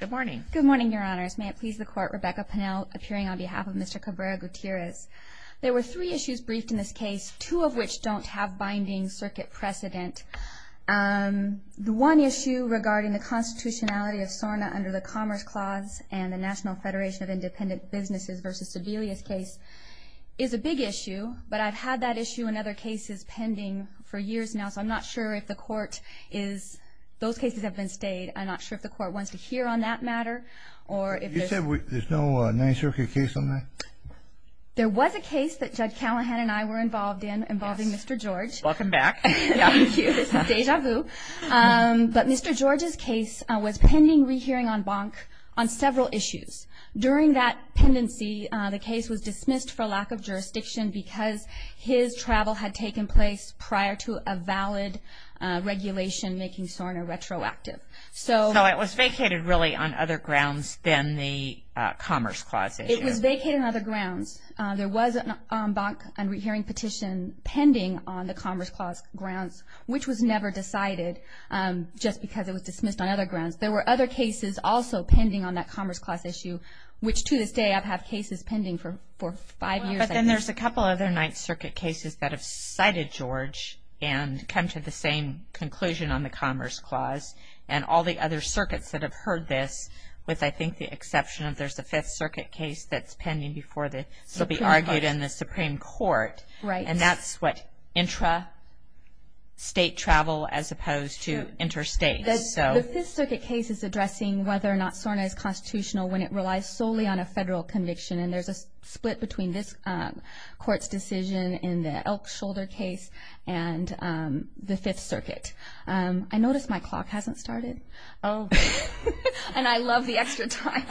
Good morning. Good morning, Your Honors. May it please the Court, Rebecca Pennell appearing on behalf of Mr. Cabrera-Gutierrez. There were three issues briefed in this case, two of which don't have binding circuit precedent. The one issue regarding the constitutionality of SORNA under the Commerce Clause and the National Federation of Independent Businesses v. Sebelius case is a big issue, but I've had that issue and other cases pending for years now, so I'm not sure if the Court is... You said there's no non-circuit case on that? There was a case that Judd Callahan and I were involved in, involving Mr. George. Welcome back. Thank you. This is deja vu. But Mr. George's case was pending rehearing on BONC on several issues. During that pendency, the case was dismissed for lack of jurisdiction because his travel had taken place prior to a valid regulation making SORNA retroactive. So it was vacated really on other grounds than the Commerce Clause issue? It was vacated on other grounds. There was a BONC on rehearing petition pending on the Commerce Clause grounds, which was never decided just because it was dismissed on other grounds. There were other cases also pending on that Commerce Clause issue, which to this day I've had cases pending for five years. But then there's a couple other Ninth Circuit cases that have cited George and come to the same conclusion on the Commerce Clause and all the other circuits that have heard this, with I think the exception of there's a Fifth Circuit case that's pending before the Supreme Court. And that's what intra-state travel as opposed to interstate. The Fifth Circuit case is addressing whether or not SORNA is constitutional when it relies solely on a federal conviction. And there's a split between this Court's decision in the Elk Shoulder case and the Fifth Circuit. I notice my clock hasn't started. Oh, and I love the extra time.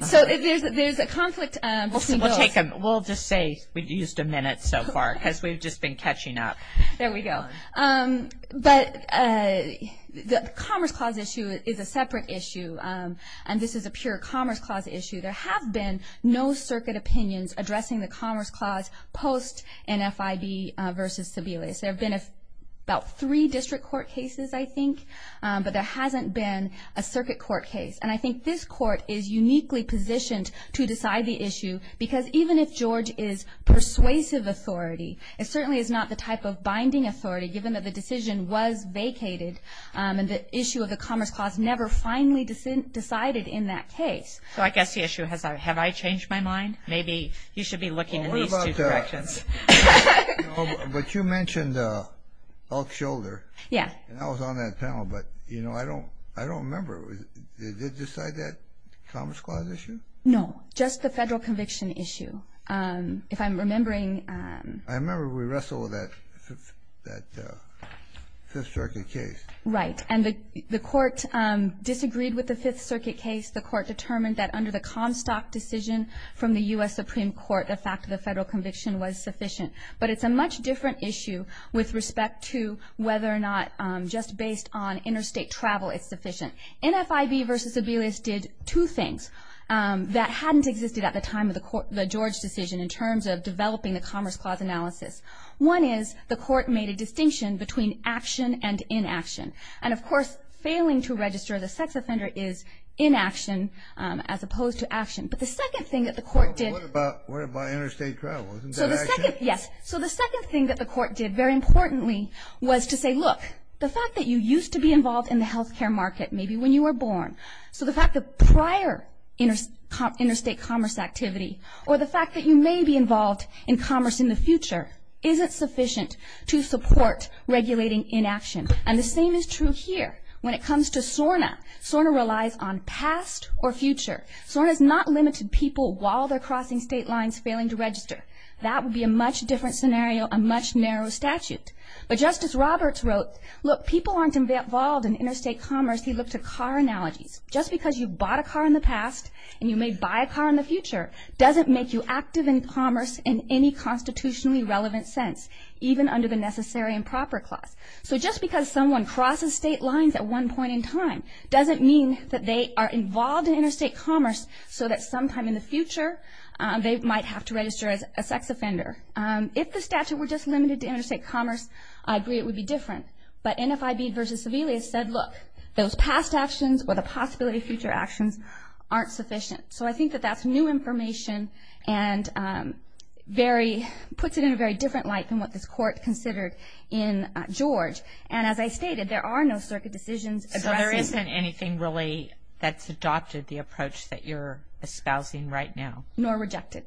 So there's a conflict between bills. We'll just say we've used a minute so far because we've just been catching up. There we go. But the Commerce Clause issue is a separate issue, and this is a pure Commerce Clause issue. There have been no circuit opinions addressing the Commerce Clause post-NFIB v. Sebelius. There have been about three District Court cases, I think, but there hasn't been a Circuit Court case. And I think this Court is uniquely positioned to decide the issue because even if George is persuasive authority, it certainly is not the type of binding authority given that the decision was vacated and the issue of the Commerce Clause never finally decided in that case. So I guess the issue is, have I changed my mind? Maybe you should be looking in these two directions. But you mentioned Elk Shoulder. And I was on that panel, but I don't remember. Did they decide that Commerce Clause issue? No, just the Federal Conviction issue. I remember we wrestled with that Fifth Circuit case. Right, and the Court disagreed with the Fifth Circuit case. The Court determined that under the Comstock decision from the U.S. Supreme Court, the fact of the Federal Conviction was sufficient. But it's a much different issue with respect to whether or not just based on interstate travel it's sufficient. NFIB v. Sebelius did two things that hadn't existed at the time of the George decision in terms of developing the Commerce Clause analysis. One is, the Court made a distinction between action and inaction. And of course, failing to register the sex offender is inaction as opposed to action. But the second thing that the Court did... So the second thing that the Court did, very importantly, was to say, look, the fact that you used to be involved in the health care market, maybe when you were born, so the fact that prior interstate commerce activity, or the fact that you may be involved in commerce in the future, isn't sufficient to support regulating inaction. And the same is true here when it comes to SORNA. SORNA relies on past or future. SORNA has not limited people while they're crossing state lines failing to register. That would be a much different scenario, a much narrower statute. But Justice Roberts wrote, look, people aren't involved in interstate commerce, he looked at car analogies. Just because you bought a car in the past and you may buy a car in the future doesn't make you active in commerce in any constitutionally relevant sense, even under the Necessary and Proper Clause. So just because someone crosses state lines at one point in time doesn't mean that they are involved in interstate commerce so that sometime in the future they might have to register as a sex offender. If the statute were just limited to interstate commerce, I agree it would be different. But NFIB v. Seville has said, look, those past actions or the possibility of future actions aren't sufficient. So I think that that's new information and very, puts it in a very different light than what this Court considered in George. And as I stated, there are no circuit decisions addressing. So there isn't anything really that's adopted the approach that you're espousing right now? Nor rejected.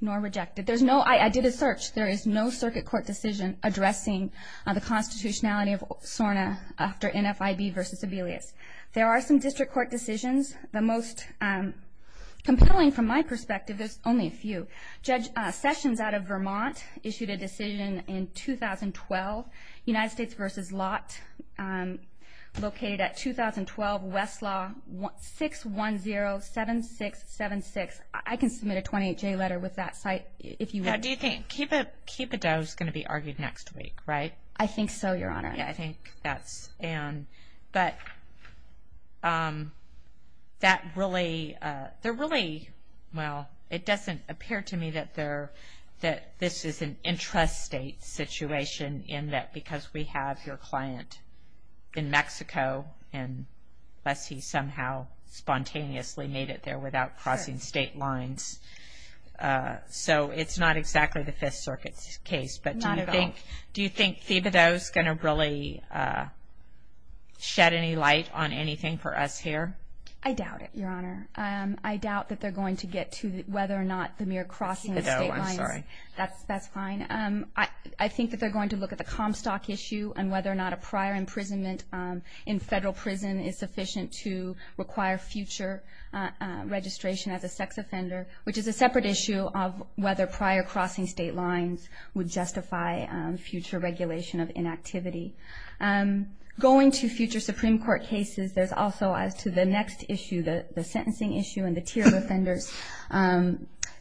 Nor rejected. I did a search. There is no circuit court decision addressing the constitutionality of SORNA after NFIB v. Seville. There are some district court decisions. The most compelling from my perspective, there's only a few. Judge Sessions out of Vermont issued a decision in 2012, United States v. Lott, located at 2012, Westlaw, 610-7676. I can submit a 28-J letter with that site if you want. How do you think? Keep a Doe is going to be argued next week, right? I think so, Your Honor. Yeah, I think that's Ann. But that really, they're really, well, it doesn't appear to me that this is an interest state situation in that because we have your client in Mexico and thus he somehow spontaneously made it there without crossing state lines. So it's not exactly the Fifth Circuit's case. Not at all. Do you think Keep a Doe is going to really shed any light on anything for us here? I doubt it, Your Honor. I doubt that they're going to get to whether or not the mere crossing of state lines. Keep a Doe, I'm sorry. That's fine. I think that they're going to look at the Comstock issue and whether or not a prior imprisonment in federal prison is sufficient to require future registration as a sex offender, which is a separate issue of whether prior crossing state lines would justify future regulation of inactivity. Going to future Supreme Court cases, there's also as to the next issue, the sentencing issue and the tier offenders.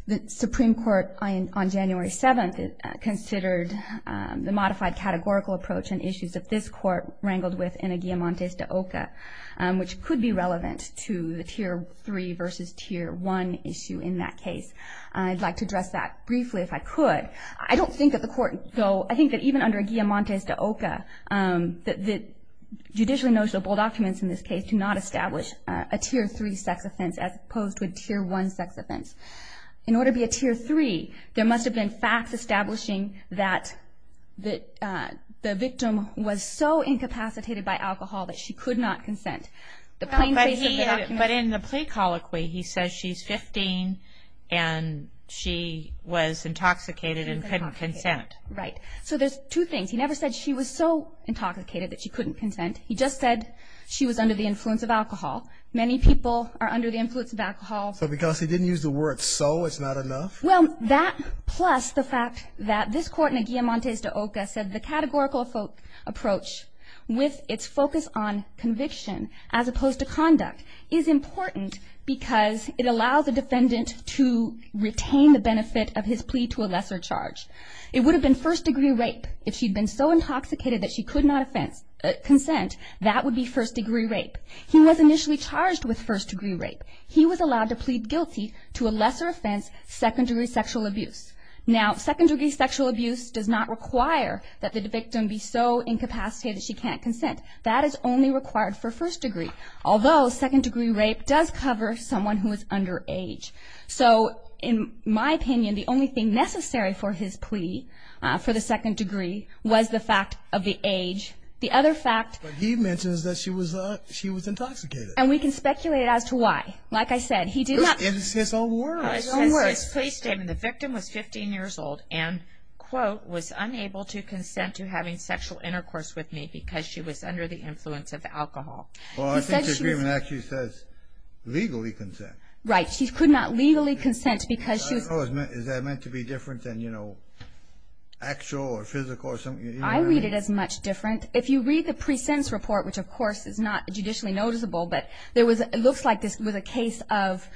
The Supreme Court on January 7th considered the modified categorical approach and issues that this court wrangled with in a guillamante de OCA, which could be relevant to the tier 3 versus tier 1 issue in that case. I'd like to address that briefly if I could. I don't think that the court, though, I think that even under a guillamante de OCA, the judicially noticeable documents in this case do not establish a tier 3 sex offense as opposed to a tier 1 sex offense. In order to be a tier 3, there must have been facts establishing that the victim was so incapacitated by alcohol that she could not consent. But in the plea colloquy, he says she's 15 and she was intoxicated and couldn't consent. Right. So there's two things. He never said she was so intoxicated that she couldn't consent. He just said she was under the influence of alcohol. Many people are under the influence of alcohol. So because he didn't use the word so, it's not enough? Well, that plus the fact that this court in a guillamante de OCA said the categorical approach with its focus on conviction as opposed to conduct is important because it allows the defendant to retain the benefit of his plea to a lesser charge. It would have been first degree rape if she'd been so intoxicated that she could not consent. That would be first degree rape. He was initially charged with first degree rape. He was allowed to plead guilty to a lesser offense, second degree sexual abuse. Now, second degree sexual abuse does not require that the victim be so incapacitated that she can't consent. That is only required for first degree, although second degree rape does cover someone who is underage. So in my opinion, the only thing necessary for his plea for the second degree was the fact of the age. The other fact. But he mentions that she was intoxicated. And we can speculate as to why. Like I said, he did not. It's his own words. It's his own words. His plea statement. The victim was 15 years old and, quote, was unable to consent to having sexual intercourse with me because she was under the influence of alcohol. Well, I think the agreement actually says legally consent. Right. She could not legally consent because she was... I don't know. Is that meant to be different than, you know, actual or physical or something? I read it as much different. If you read the pre-sentence report, which, of course, is not judicially noticeable, but it looks like this was a case of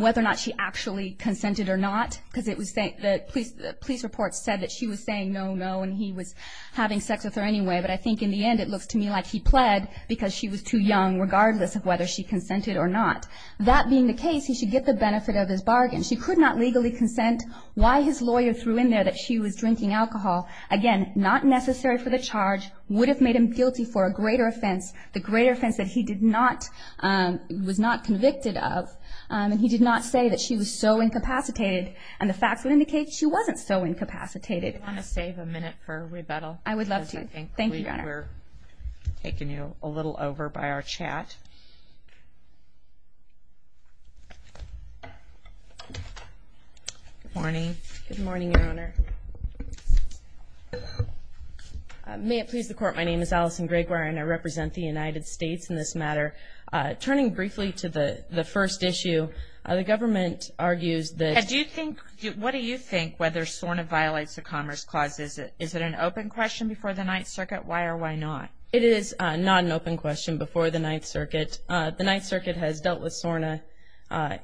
whether or not she actually consented or not because the police report said that she was saying no, no, and he was having sex with her anyway. But I think, in the end, it looks to me like he pled because she was too young, regardless of whether she consented or not. That being the case, he should get the benefit of his bargain. She could not legally consent. Why his lawyer threw in there that she was drinking alcohol, again, not necessary for the charge, would have made him guilty for a greater offense, the greater offense that he was not convicted of. And he did not say that she was so incapacitated. And the facts would indicate she wasn't so incapacitated. Do you want to save a minute for rebuttal? I would love to. Thank you, Your Honor. We're taking you a little over by our chat. Good morning. Good morning, Your Honor. May it please the Court, my name is Allison Gregoire, and I represent the United States in this matter. Turning briefly to the first issue, the government argues that do you think, what do you think whether SORNA violates the Commerce Clause? Is it an open question before the Ninth Circuit? Why or why not? It is not an open question before the Ninth Circuit. The Ninth Circuit has dealt with SORNA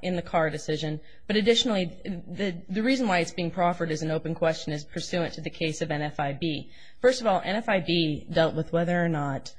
in the Carr decision. But additionally, the reason why it's being proffered as an open question is pursuant to the case of NFIB. First of all, NFIB dealt with whether or not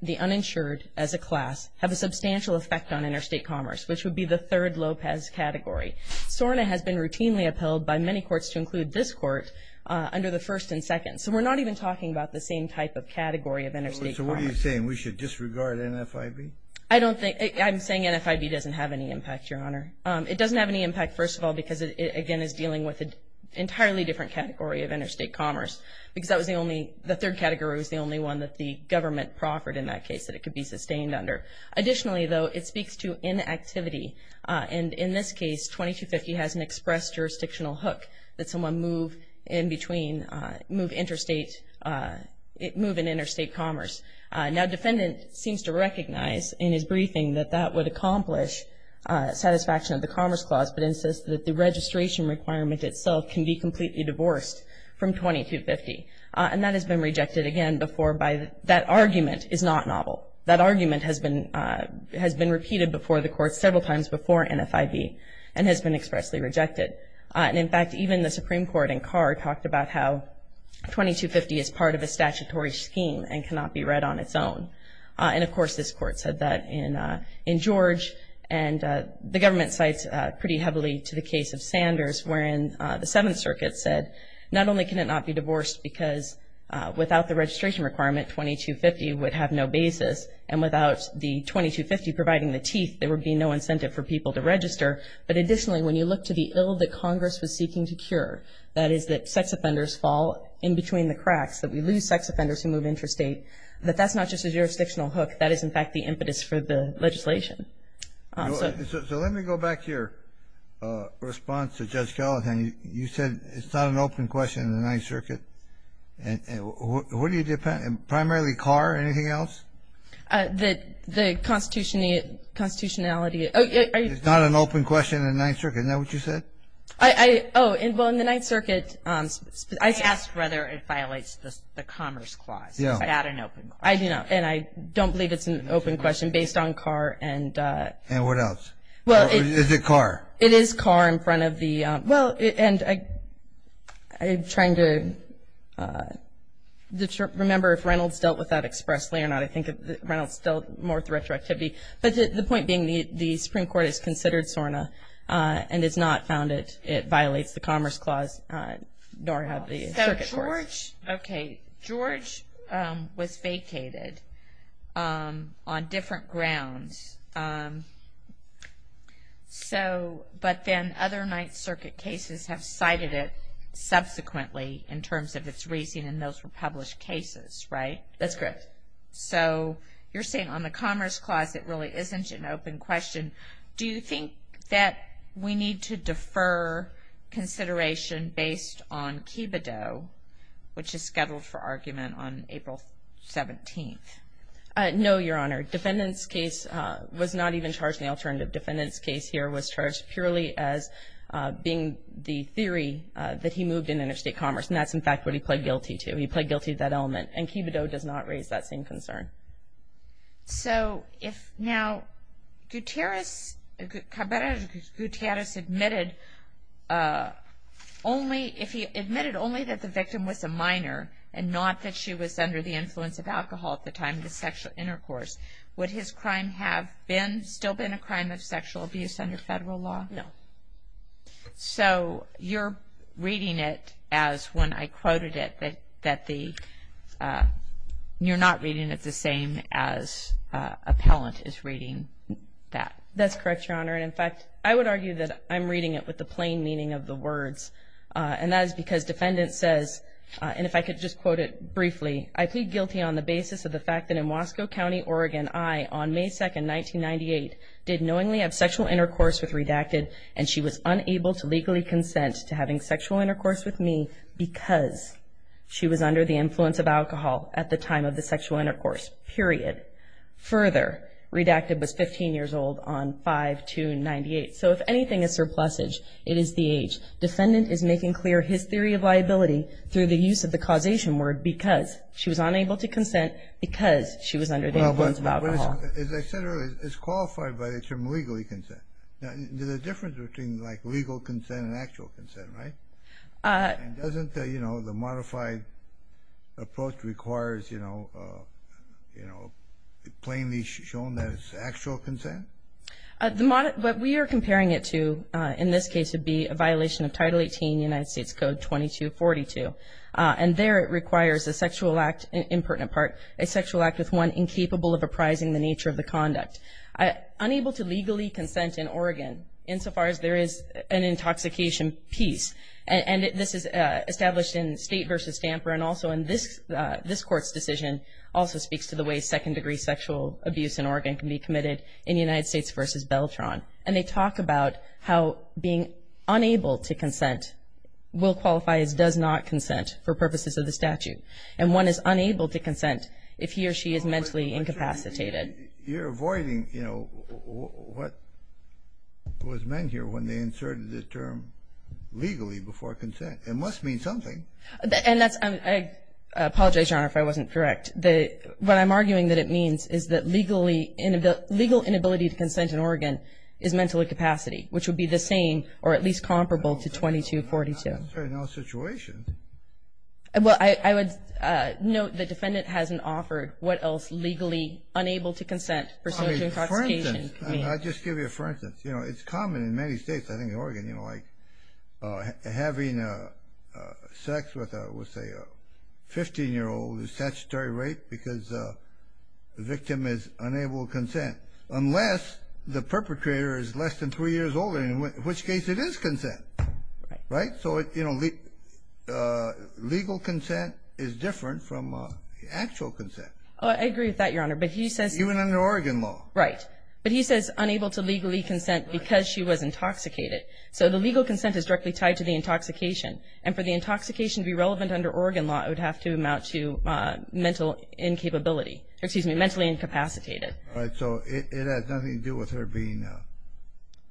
the uninsured as a class have a substantial effect on interstate commerce, which would be the third Lopez category. SORNA has been routinely upheld by many courts to include this court under the first and second. So we're not even talking about the same type of category of interstate commerce. So what are you saying? We should disregard NFIB? I'm saying NFIB doesn't have any impact, Your Honor. It doesn't have any impact, first of all, because it, again, is dealing with an entirely different category of interstate commerce. Because that was the only, the third category was the only one that the government proffered in that case that it could be sustained under. Additionally, though, it speaks to inactivity. And in this case, 2250 has an express jurisdictional hook that someone move in between, move interstate, move in interstate commerce. Now, defendant seems to recognize in his briefing that that would accomplish satisfaction of the Commerce Clause, but insists that the registration requirement itself can be completely divorced from 2250. And that has been rejected again before by, that argument is not novel. That argument has been, has been repeated before the courts several times before NFIB and has been expressly rejected. And, in fact, even the Supreme Court in Carr talked about how 2250 is part of a statutory scheme and cannot be read on its own. And, of course, this court said that in George. And the government cites pretty heavily to the case of Sanders wherein the Seventh Circuit said, not only can it not be divorced because without the registration requirement, 2250 would have no basis. And without the 2250 providing the teeth, there would be no incentive for people to register. But, additionally, when you look to the ill that Congress was seeking to cure, that is that sex offenders fall in between the cracks, that we lose sex offenders who move interstate, that that's not just a jurisdictional hook. That is, in fact, the impetus for the legislation. So let me go back to your response to Judge Gallatin. You said it's not an open question in the Ninth Circuit. And what do you, primarily Carr, anything else? The constitutionality. It's not an open question in the Ninth Circuit. Isn't that what you said? I, oh, well, in the Ninth Circuit. I asked whether it violates the Commerce Clause. Is that an open question? And I don't believe it's an open question based on Carr and. And what else? Is it Carr? It is Carr in front of the. Well, and I'm trying to remember if Reynolds dealt with that expressly or not. I think Reynolds dealt more with the retroactivity. But the point being the Supreme Court has considered SORNA and has not found it violates the Commerce Clause. Nor have the circuit courts. So George, okay, George was vacated on different grounds. So, but then other Ninth Circuit cases have cited it subsequently in terms of its reason, and those were published cases, right? That's correct. So you're saying on the Commerce Clause it really isn't an open question. Do you think that we need to defer consideration based on Kibideau, which is scheduled for argument on April 17th? No, Your Honor. Defendant's case was not even charged in the alternative. Defendant's case here was charged purely as being the theory that he moved in interstate commerce. And that's, in fact, what he pled guilty to. He pled guilty to that element. And Kibideau does not raise that same concern. So if now Gutierrez, Cabrera-Gutierrez admitted only if he admitted only that the victim was a minor and not that she was under the influence of alcohol at the time of the sexual intercourse, would his crime have been, still been a crime of sexual abuse under federal law? No. So you're reading it as, when I quoted it, that you're not reading it the same as appellant is reading that. That's correct, Your Honor. And, in fact, I would argue that I'm reading it with the plain meaning of the words. And that is because defendant says, and if I could just quote it briefly, I plead guilty on the basis of the fact that in Wasco County, Oregon, I, on May 2, 1998, did knowingly have sexual intercourse with Redacted, and she was unable to legally consent to having sexual intercourse with me because she was under the influence of alcohol at the time of the sexual intercourse, period. Further, Redacted was 15 years old on 5-2-98. So if anything is surplusage, it is the age. Defendant is making clear his theory of liability through the use of the causation word because she was unable to consent because she was under the influence of alcohol. As I said earlier, it's qualified by the term legally consent. There's a difference between, like, legal consent and actual consent, right? And doesn't the, you know, the modified approach requires, you know, plainly shown that it's actual consent? What we are comparing it to in this case would be a violation of Title 18, United States Code 2242. And there it requires a sexual act, in pertinent part, a sexual act with one incapable of apprising the nature of the conduct. Unable to legally consent in Oregon, insofar as there is an intoxication piece, and this is established in State v. Stamper and also in this court's decision, also speaks to the way second-degree sexual abuse in Oregon can be committed in United States v. Beltron. And they talk about how being unable to consent will qualify as does not consent for purposes of the statute. And one is unable to consent if he or she is mentally incapacitated. You're avoiding, you know, what was meant here when they inserted the term legally before consent. It must mean something. And that's, I apologize, Your Honor, if I wasn't correct. What I'm arguing that it means is that legal inability to consent in Oregon is mentally incapacity, which would be the same or at least comparable to 2242. No situation. Well, I would note the defendant hasn't offered what else legally unable to consent for sexual intoxication means. I'll just give you a for instance. You know, it's common in many states, I think in Oregon, you know, having sex with, let's say, a 15-year-old is statutory rape because the victim is unable to consent. Unless the perpetrator is less than three years older, in which case it is consent. Right? So, you know, legal consent is different from actual consent. I agree with that, Your Honor. But he says... Even under Oregon law. Right. But he says unable to legally consent because she was intoxicated. So the legal consent is directly tied to the intoxication. And for the intoxication to be relevant under Oregon law, it would have to amount to mental incapability. Excuse me, mentally incapacitated. All right. So it has nothing to do with her being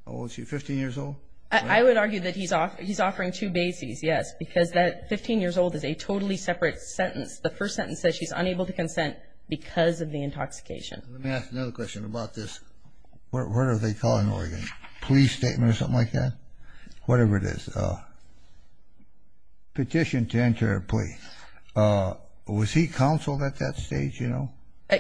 15 years old? I would argue that he's offering two bases, yes. Because that 15 years old is a totally separate sentence. The first sentence says she's unable to consent because of the intoxication. Let me ask another question about this. What do they call it in Oregon? Police statement or something like that? Whatever it is. Petition to enter a plea. Was he counseled at that stage, you know?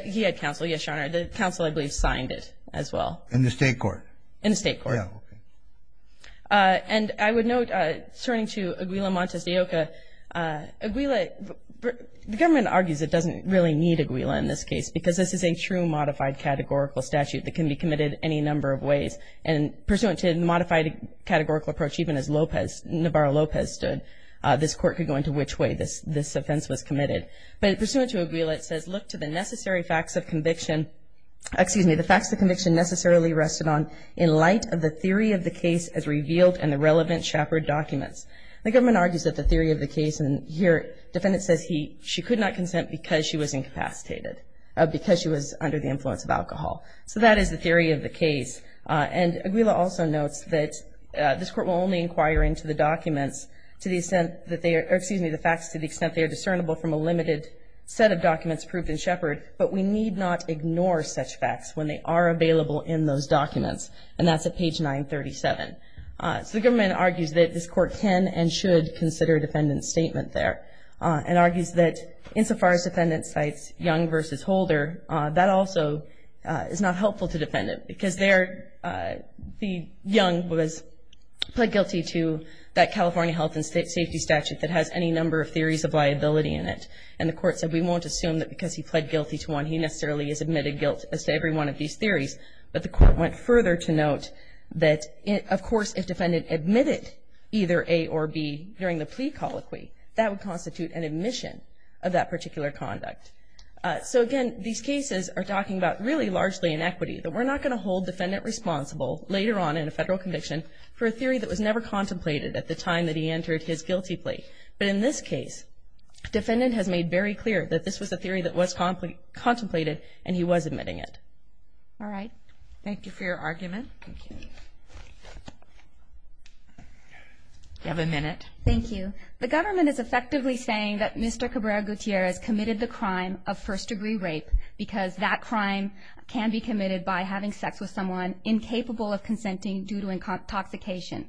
He had counsel, yes, Your Honor. The counsel, I believe, signed it as well. In the state court? In the state court. Yeah. Okay. And I would note, turning to Aguila Montes de Oca, Aguila... The government argues it doesn't really need Aguila in this case because this is a true modified categorical statute that can be committed any number of ways. And pursuant to a modified categorical approach, even as Navarro Lopez stood, this court could go into which way this offense was committed. But pursuant to Aguila, it says, look to the necessary facts of conviction necessarily rested on in light of the theory of the case as revealed in the relevant Shepard documents. The government argues that the theory of the case, and here the defendant says she could not consent because she was incapacitated. Because she was under the influence of alcohol. So that is the theory of the case. And Aguila also notes that this court will only inquire into the documents to the extent that they are, or excuse me, the facts to the extent they are discernible from a limited set of documents proved in Shepard. But we need not ignore such facts when they are available in those documents. And that's at page 937. So the government argues that this court can and should consider a defendant's statement there. And argues that insofar as defendant cites Young v. Holder, that also is not helpful to defendant. Because there the Young was pled guilty to that California health and safety statute that has any number of theories of liability in it. And the court said we won't assume that because he pled guilty to one, he necessarily has admitted guilt as to every one of these theories. But the court went further to note that of course if defendant admitted either A or B during the plea colloquy, that would constitute an admission of that particular conduct. So again, these cases are talking about really largely inequity. That we're not going to hold defendant responsible later on in a federal conviction for a theory that was never contemplated at the time that he entered his guilty plea. But in this case, defendant has made very clear that this was a theory that was contemplated and he was admitting it. All right. Thank you. You have a minute. Thank you. The government is effectively saying that Mr. Cabrera-Gutierrez committed the crime of first degree rape because that crime can be committed by having sex with someone incapable of consenting due to intoxication.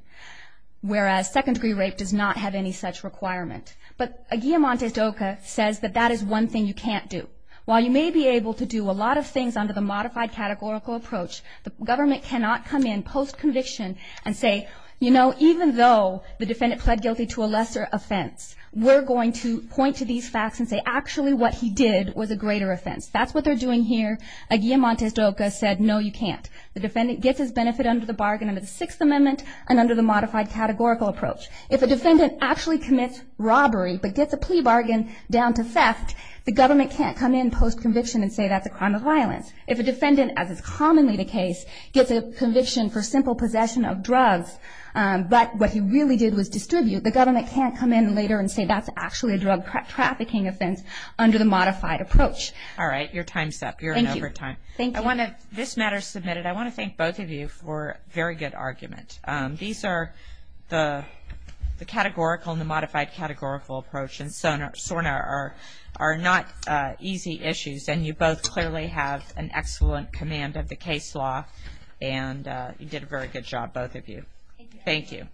Whereas second degree rape does not have any such requirement. But a guillemante doca says that that is one thing you can't do. While you may be able to do a lot of things under the modified categorical approach, the government cannot come in post-conviction and say, you know, even though the defendant pled guilty to a lesser offense, we're going to point to these facts and say actually what he did was a greater offense. That's what they're doing here. A guillemante doca said, no, you can't. The defendant gets his benefit under the bargain under the Sixth Amendment and under the modified categorical approach. If a defendant actually commits robbery but gets a plea bargain down to theft, the government can't come in post-conviction and say that's a crime of violence. If a defendant, as is commonly the case, gets a conviction for simple possession of drugs but what he really did was distribute, the government can't come in later and say that's actually a drug trafficking offense under the modified approach. All right. Your time's up. You're in overtime. Thank you. This matter is submitted. I want to thank both of you for a very good argument. These are the categorical and the modified categorical approach and SORNA are not easy issues, and you both clearly have an excellent command of the case law, and you did a very good job, both of you. Thank you.